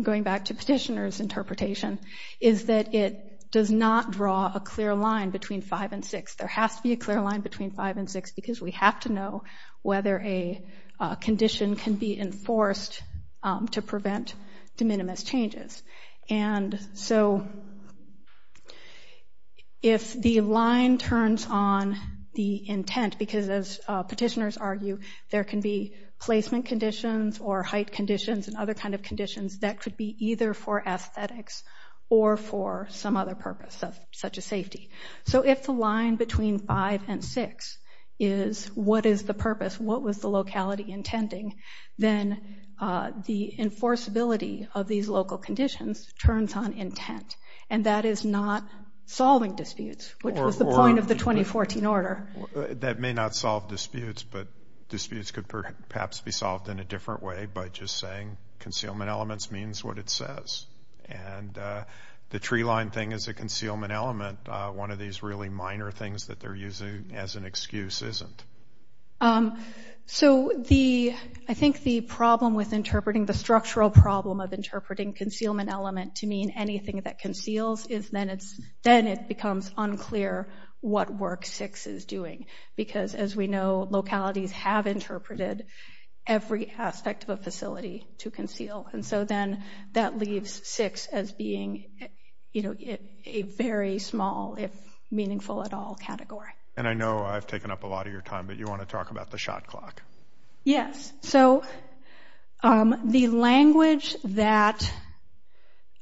going back to petitioner's interpretation is that it does not draw a clear line between five and six. There has to be a clear line between five and six because we have to know whether a condition can be enforced to prevent de minimis changes. And so if the line turns on the intent, because as petitioners argue, there can be placement conditions or height conditions and other kinds of conditions that could be either for aesthetics or for some other purpose of such a safety. So if the line between five and six is what is the purpose, what was the locality intending, then the enforceability of these local conditions turns on intent and that is not solving disputes, which was the point of the 2014 order. That may not solve disputes, but disputes could perhaps be solved in a different way by just saying concealment elements means what it says. And the tree line thing is a concealment element. One of these really minor things that they're using as an excuse isn't. So I think the problem with interpreting, the structural problem of interpreting concealment element to mean anything that conceals is then it becomes unclear what work six is doing. Because as we know, localities have interpreted every aspect of a facility to conceal. And so then that leaves six as being a very small, if meaningful at all category. And I know I've taken up a lot of your time, but you want to talk about the shot clock. Yes, so the language that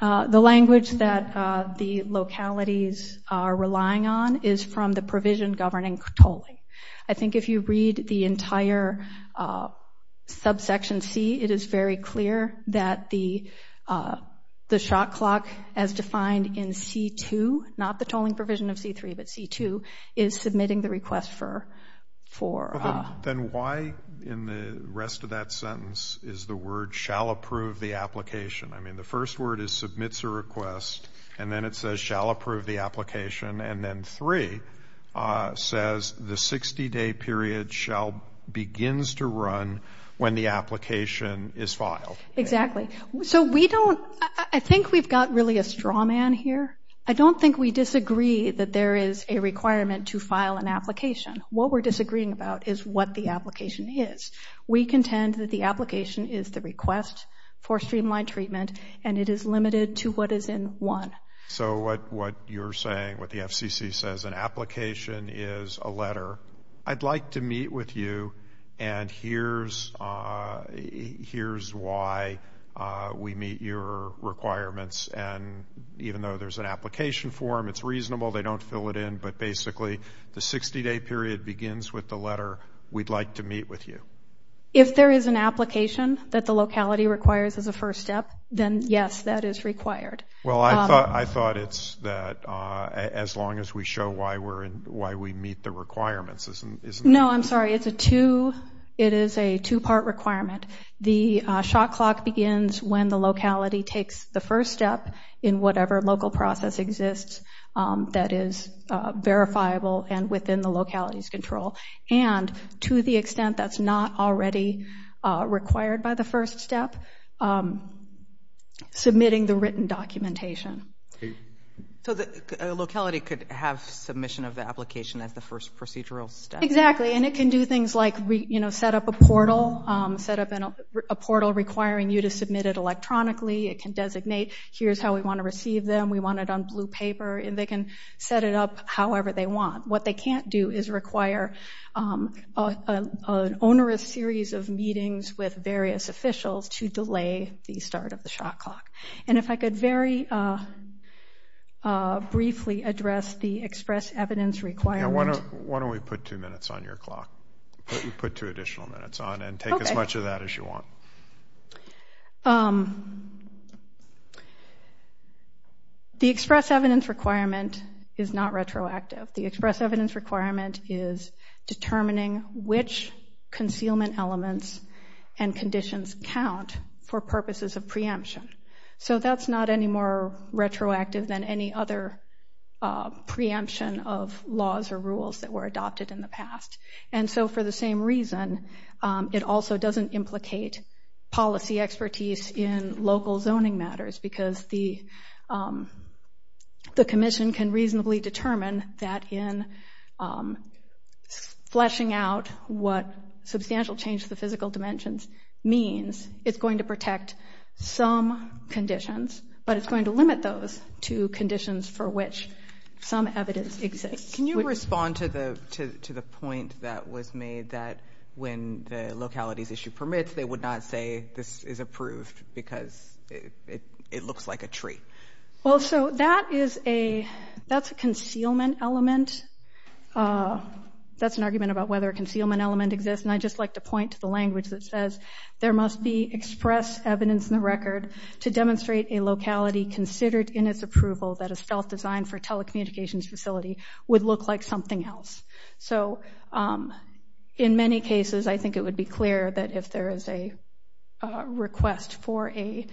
the localities are relying on is from the provision governing tolling. I think if you read the entire subsection C, it is very clear that the shot clock as defined in C2, not the tolling provision of C3, but C2 is submitting the request for. Then why in the rest of that sentence is the word shall approve the application? I mean, the first word is submits a request, and then it says shall approve the application. And then three says the 60 day period shall begins to run when the application is filed. Exactly, so we don't, I think we've got really a straw man here. I don't think we disagree that there is a requirement to file an application. What we're disagreeing about is what the application is. We contend that the application is the request for streamlined treatment, and it is limited to what is in one. So what you're saying, what the FCC says, an application is a letter. I'd like to meet with you, and here's why we meet your requirements. And even though there's an application form, it's reasonable, they don't fill it in, but basically the 60 day period begins with the letter, we'd like to meet with you. If there is an application that the locality requires as a first step, then yes, that is required. Well, I thought it's that as long as we show why we meet the requirements, isn't it? No, I'm sorry, it is a two part requirement. The shot clock begins when the locality takes the first step in whatever local process exists that is verifiable and within the locality's control. And to the extent that's not already required by the first step, submitting the written documentation. So the locality could have submission of the application as the first procedural step. Exactly, and it can do things like set up a portal, set up a portal requiring you to submit it electronically, it can designate, here's how we want to receive them, we want it on blue paper, and they can set it up however they want. What they can't do is require an onerous series of meetings with various officials to delay the start of the shot clock. And if I could very briefly address the express evidence requirement. Why don't we put two minutes on your clock? Put two additional minutes on and take as much of that as you want. The express evidence requirement is not retroactive. The express evidence requirement is determining which concealment elements and conditions count for purposes of preemption. So that's not any more retroactive than any other preemption of laws or rules that were adopted in the past. And so for the same reason, it also doesn't implicate policy expertise in local zoning matters because the commission can reasonably determine that in fleshing out what substantial change to the physical dimensions means, it's going to protect some conditions, but it's going to limit those to conditions for which some evidence exists. Can you respond to the point that was made that when the locality's issue permits, they would not say this is approved because it looks like a tree? Well, so that's a concealment element. That's an argument about whether a concealment element exists and I'd just like to point to the language that says, there must be express evidence in the record to demonstrate a locality considered in its approval that a self-designed for telecommunications facility would look like something else. So in many cases, I think it would be clear that if there is a request for a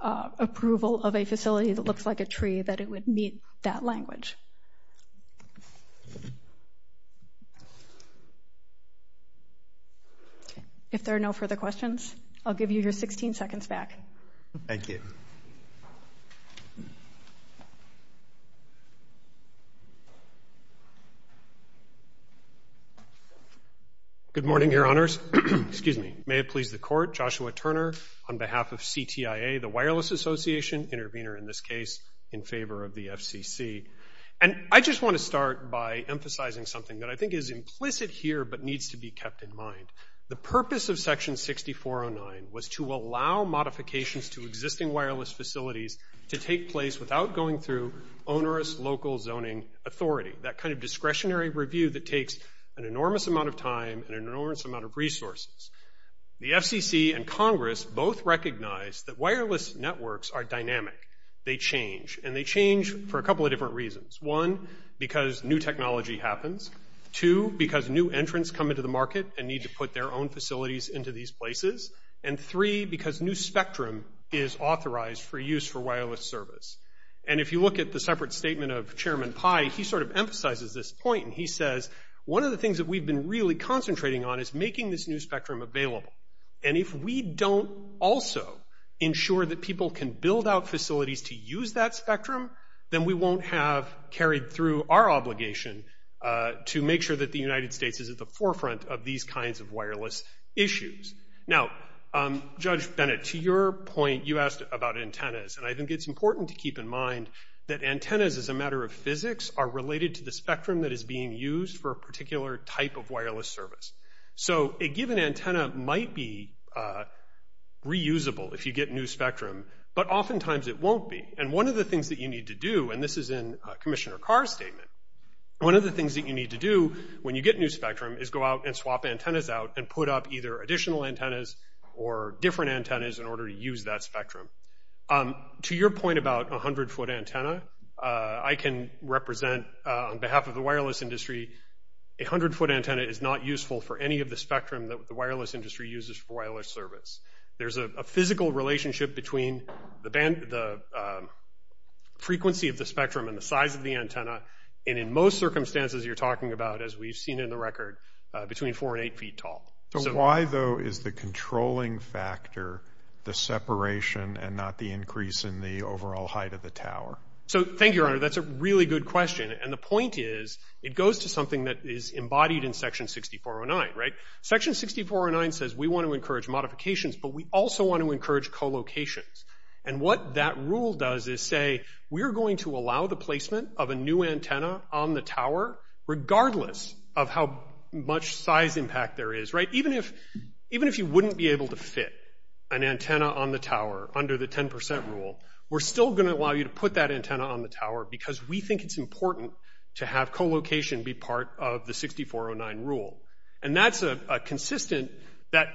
approval of a facility that looks like a tree, that it would meet that language. If there are no further questions, I'll give you your 16 seconds back. Thank you. Thank you. Good morning, your honors. Excuse me. May it please the court, Joshua Turner on behalf of CTIA, the Wireless Association, intervener in this case in favor of the FCC. And I just want to start by emphasizing something that I think is implicit here, but needs to be kept in mind. The purpose of section 6409 was to allow modifications to existing wireless facilities to take place without going through onerous local zoning authority, that kind of discretionary review that takes an enormous amount of time and an enormous amount of resources. The FCC and Congress both recognize that wireless networks are dynamic. They change, and they change for a couple of different reasons. One, because new technology happens. Two, because new entrants come into the market and need to put their own facilities into these places. And three, because new spectrum is authorized for use for wireless service. And if you look at the separate statement of Chairman Pai, he sort of emphasizes this point. And he says, one of the things that we've been really concentrating on is making this new spectrum available. And if we don't also ensure that people can build out facilities to use that spectrum, then we won't have carried through our obligation to make sure that the United States is at the forefront of these kinds of wireless issues. Now, Judge Bennett, to your point, you asked about antennas. And I think it's important to keep in mind that antennas, as a matter of physics, are related to the spectrum that is being used for a particular type of wireless service. So a given antenna might be reusable if you get new spectrum, but oftentimes it won't be. And one of the things that you need to do, and this is in Commissioner Carr's statement, one of the things that you need to do when you get new spectrum is go out and swap antennas out and put up either additional antennas or different antennas in order to use that spectrum. To your point about a 100-foot antenna, I can represent, on behalf of the wireless industry, a 100-foot antenna is not useful for any of the spectrum that the wireless industry uses for wireless service. There's a physical relationship between the frequency of the spectrum and the size of the antenna. And in most circumstances, you're talking about, as we've seen in the record, between four and eight feet tall. So why, though, is the controlling factor the separation and not the increase in the overall height of the tower? So thank you, Your Honor, that's a really good question. And the point is, it goes to something that is embodied in Section 6409, right? Section 6409 says we want to encourage modifications, but we also want to encourage co-locations. And what that rule does is say, we're going to allow the placement of a new antenna on the tower, regardless of how much size impact there is, right? Even if you wouldn't be able to fit an antenna on the tower under the 10% rule, we're still going to allow you to put that antenna on the tower because we think it's important to have co-location be part of the 6409 rule. And that's a consistent, that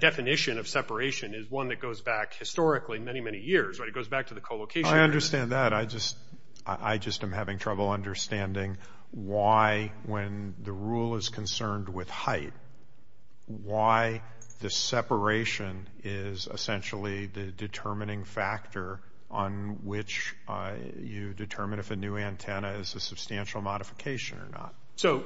definition of separation is one that goes back historically many, many years, right, it goes back to the co-location. I understand that, I just am having trouble understanding why, when the rule is concerned with height, why the separation is essentially the determining factor on which you determine if a new antenna is a substantial modification or not. So,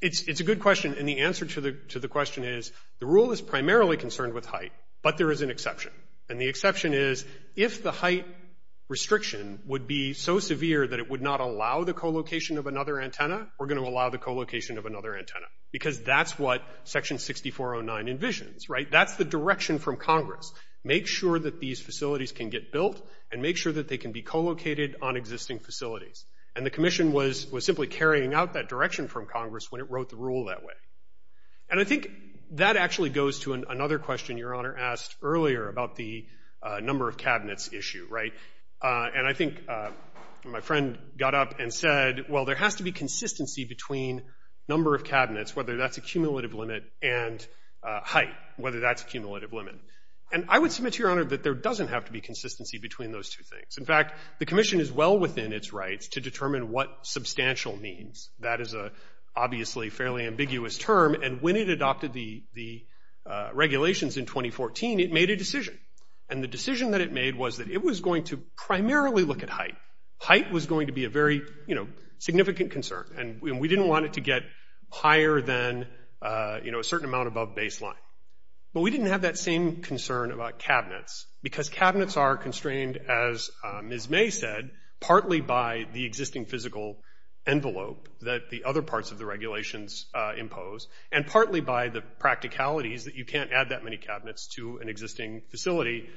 it's a good question, and the answer to the question is, the rule is primarily concerned with height, but there is an exception. And the exception is, if the height restriction would be so severe that it would not allow the co-location of another antenna, we're going to allow the co-location of another antenna. Because that's what section 6409 envisions, right, that's the direction from Congress, make sure that these facilities can get built and make sure that they can be co-located on existing facilities. And the commission was simply carrying out that direction from Congress when it wrote the rule that way. And I think that actually goes to another question Your Honor asked earlier about the number of cabinets issue, right, and I think my friend got up and said, well, there has to be consistency between number of cabinets, whether that's a cumulative limit, and height, whether that's a cumulative limit. And I would submit to Your Honor that there doesn't have to be consistency between those two things. In fact, the commission is well within its rights to determine what substantial means. That is a obviously fairly ambiguous term, and when it adopted the regulations in 2014, it made a decision. And the decision that it made was that it was going to primarily look at height. Height was going to be a very significant concern, and we didn't want it to get higher than, you know, a certain amount above baseline. But we didn't have that same concern about cabinets, because cabinets are constrained, as Ms. May said, partly by the existing physical envelope that the other parts of the regulations impose, and partly by the practicalities that you can't add that many cabinets to an existing facility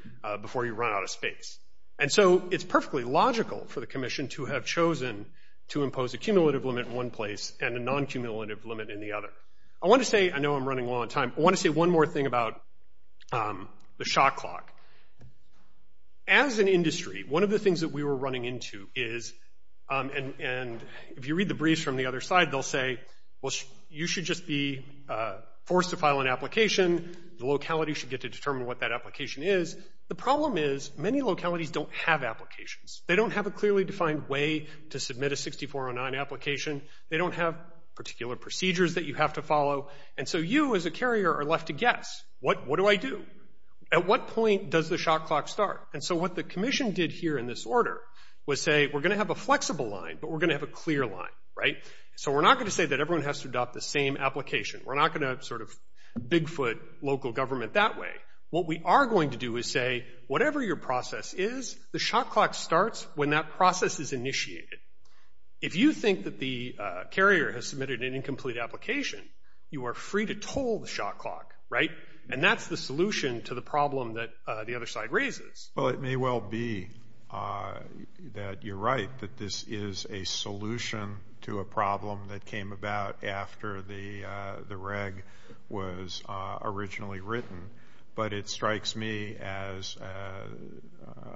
before you run out of space. And so it's perfectly logical for the commission to have chosen to impose a cumulative limit in one place and a non-cumulative limit in the other. I want to say, I know I'm running low on time, I want to say one more thing about the shot clock. As an industry, one of the things that we were running into is, and if you read the briefs from the other side, they'll say, well, you should just be forced to file an application. The locality should get to determine what that application is. The problem is many localities don't have applications. They don't have a clearly defined way to submit a 6409 application. They don't have particular procedures that you have to follow. And so you, as a carrier, are left to guess, what do I do? At what point does the shot clock start? And so what the commission did here in this order was say, we're going to have a flexible line, but we're going to have a clear line, right? So we're not going to say that everyone has to adopt the same application. We're not going to sort of bigfoot local government that way. What we are going to do is say, whatever your process is, the shot clock starts when that process is initiated. If you think that the carrier has submitted an incomplete application, you are free to toll the shot clock, right? And that's the solution to the problem that the other side raises. Well, it may well be that you're right, that this is a solution to a problem that came about after the reg was originally written, but it strikes me as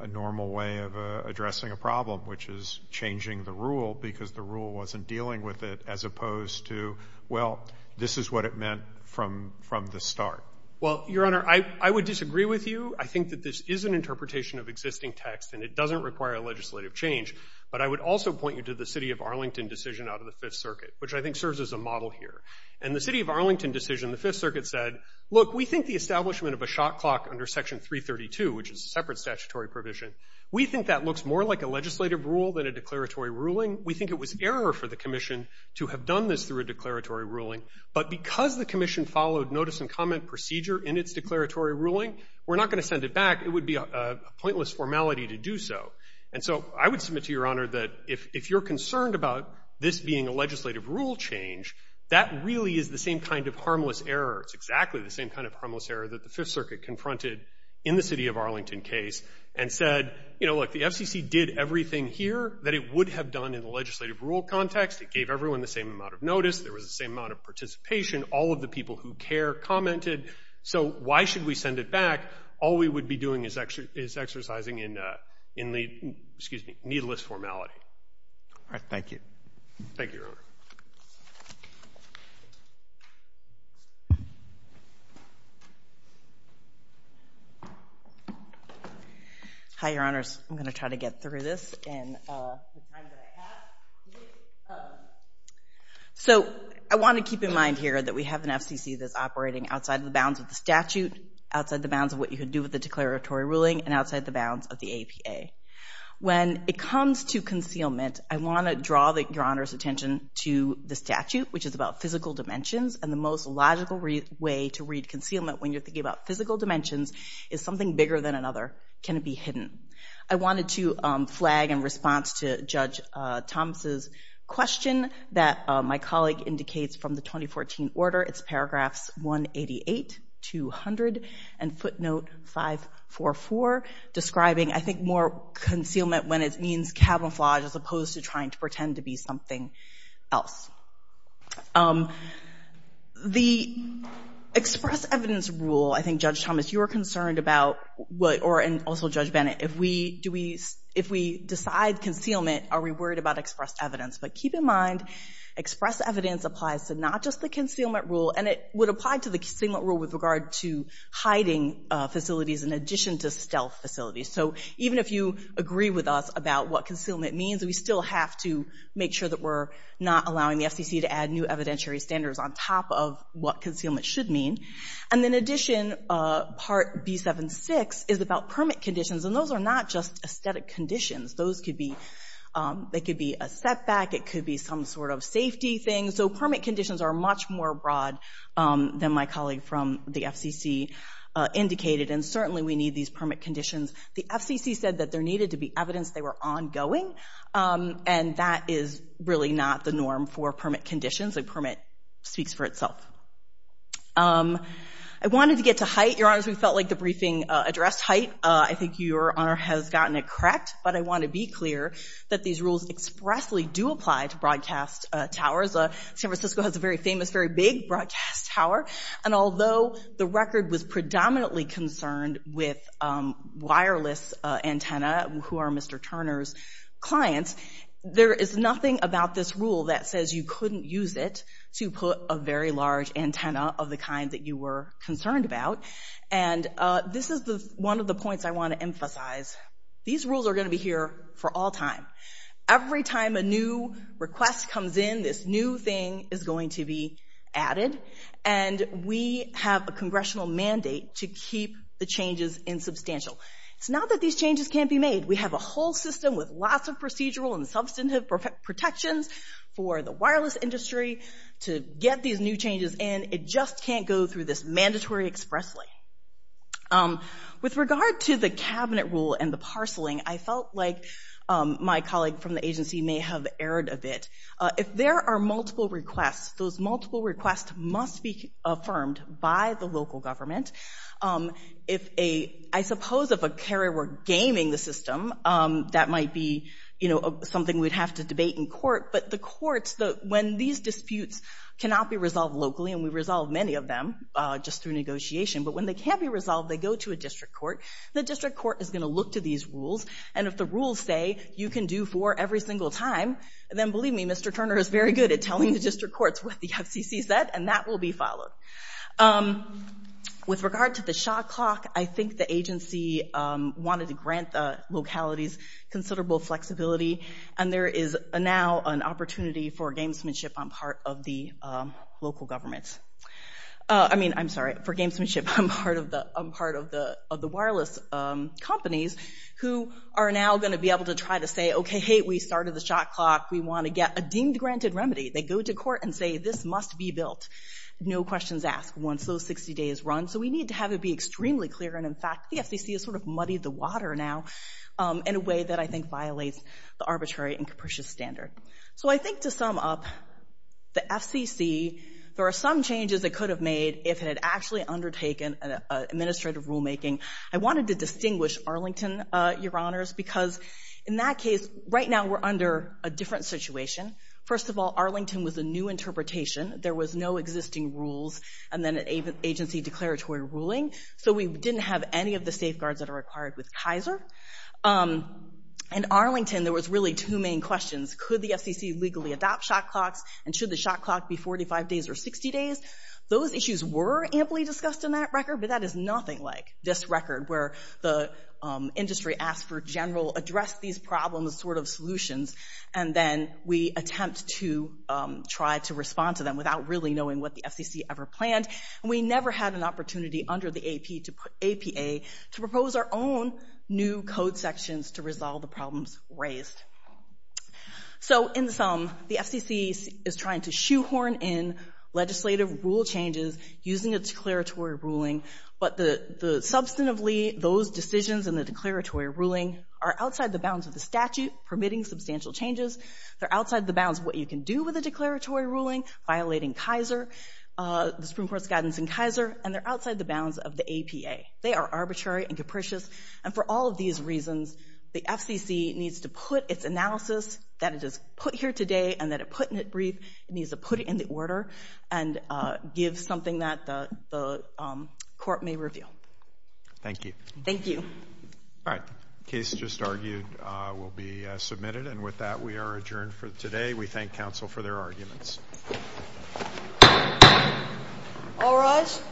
a normal way of addressing a problem, which is changing the rule because the rule wasn't dealing with it, as opposed to, well, this is what it meant from the start. Well, Your Honor, I would disagree with you. I think that this is an interpretation of existing text and it doesn't require a legislative change, but I would also point you to the City of Arlington decision out of the Fifth Circuit, which I think serves as a model here. And the City of Arlington decision, the Fifth Circuit said, look, we think the establishment of a shot clock under Section 332, which is a separate statutory provision, we think that looks more like a legislative rule than a declaratory ruling. We think it was error for the commission to have done this through a declaratory ruling, but because the commission followed notice and comment procedure in its declaratory ruling, we're not gonna send it back. It would be a pointless formality to do so. And so I would submit to Your Honor that if you're concerned about this being a legislative rule change, that really is the same kind of harmless error. It's exactly the same kind of harmless error that the Fifth Circuit confronted in the City of Arlington case and said, you know, look, the FCC did everything here that it would have done in the legislative rule context. It gave everyone the same amount of notice. There was the same amount of participation. All of the people who care commented. So why should we send it back? All we would be doing is exercising in the, excuse me, needless formality. All right, thank you. Thank you, Your Honor. Hi, Your Honors. I'm gonna try to get through this in the time that I have. So I wanna keep in mind here that we have an FCC that's operating outside of the bounds of the statute, outside the bounds of what you could do with the declaratory ruling, and outside the bounds of the APA. When it comes to concealment, I wanna draw Your Honor's attention to the statute, and the most logical reasons for concealment. And I wanna draw your attention to the statute as a way to read concealment when you're thinking about physical dimensions. Is something bigger than another? Can it be hidden? I wanted to flag in response to Judge Thomas's question that my colleague indicates from the 2014 order. It's paragraphs 188 to 100, and footnote 544, describing, I think, more concealment when it means camouflage as opposed to trying to pretend to be something else. The express evidence rule, I think, Judge Thomas, you were concerned about, and also Judge Bennett, if we decide concealment, are we worried about express evidence? But keep in mind, express evidence applies to not just the concealment rule, and it would apply to the concealment rule with regard to hiding facilities in addition to stealth facilities. So even if you agree with us about what concealment means, we still have to make sure that we're not allowing these things to happen. We're allowing the FCC to add new evidentiary standards on top of what concealment should mean. And in addition, part B76 is about permit conditions, and those are not just aesthetic conditions. Those could be, they could be a setback, it could be some sort of safety thing. So permit conditions are much more broad than my colleague from the FCC indicated, and certainly we need these permit conditions. The FCC said that there needed to be evidence, they were ongoing, and that is really not the norm for permit conditions, a permit speaks for itself. I wanted to get to height. Your honors, we felt like the briefing addressed height. I think your honor has gotten it correct, but I want to be clear that these rules expressly do apply to broadcast towers. San Francisco has a very famous, very big broadcast tower, and although the record was predominantly concerned with wireless antenna, who are Mr. Turner's clients, there is nothing about this rule that says you couldn't use it to put a very large antenna of the kind that you were concerned about. And this is one of the points I want to emphasize. These rules are going to be here for all time. Every time a new request comes in, this new thing is going to be added, and we have a congressional mandate to keep the changes insubstantial. It's not that these changes can't be made. We have a whole system with lots of procedural and substantive protections for the wireless industry to get these new changes in. It just can't go through this mandatory expressly. With regard to the cabinet rule and the parceling, I felt like my colleague from the agency may have erred a bit. If there are multiple requests, those multiple requests must be affirmed by the local government. I suppose if a carrier were gaming the system, that might be something we'd have to debate in court, but the courts, when these disputes cannot be resolved locally, and we resolve many of them just through negotiation, but when they can't be resolved, they go to a district court. The district court is going to look to these rules, and if the rules say you can do four every single time, then believe me, Mr. Turner is very good at telling the district courts what the FCC said, and that will be followed. With regard to the shot clock, I think the agency wanted to grant the localities considerable flexibility, and there is now an opportunity for gamesmanship on part of the local governments. I mean, I'm sorry, for gamesmanship on part of the wireless companies, who are now going to be able to try to say, okay, hey, we started the shot clock. We want to get a deemed granted remedy. They go to court and say this must be built. No questions asked once those 60 days run, so we need to have it be extremely clear, and in fact, the FCC has sort of muddied the water now in a way that I think violates the arbitrary and capricious standard. So I think to sum up, the FCC, there are some changes it could have made if it had actually undertaken administrative rulemaking. I wanted to distinguish Arlington, Your Honors, because in that case, right now, we're under a different situation. First of all, Arlington was a new interpretation. There was no existing rules, and then an agency declaratory ruling, so we didn't have any of the safeguards that are required with Kaiser. In Arlington, there was really two main questions. Could the FCC legally adopt shot clocks, and should the shot clock be 45 days or 60 days? Those issues were amply discussed in that record, but that is nothing like this record, where the industry asked for general, address these problems sort of solutions, and then we attempt to try to respond to them without really knowing what the FCC ever planned, and we never had an opportunity under the APA to propose our own new code sections to resolve the problems raised. So in sum, the FCC is trying to shoehorn in legislative rule changes using a declaratory ruling, but substantively, those decisions in the declaratory ruling are outside the bounds of the statute, permitting substantial changes. They're outside the bounds of what you can do with a declaratory ruling, violating Kaiser, the Supreme Court's guidance in Kaiser, and they're outside the bounds of the APA. They are arbitrary and capricious, and for all of these reasons, the FCC needs to put its analysis, that it has put here today, and that it put in it brief, it needs to put it in the order, and give something that the court may reveal. Thank you. Thank you. All right. Case just argued will be submitted, and with that, we are adjourned for today. We thank counsel for their arguments. All rise.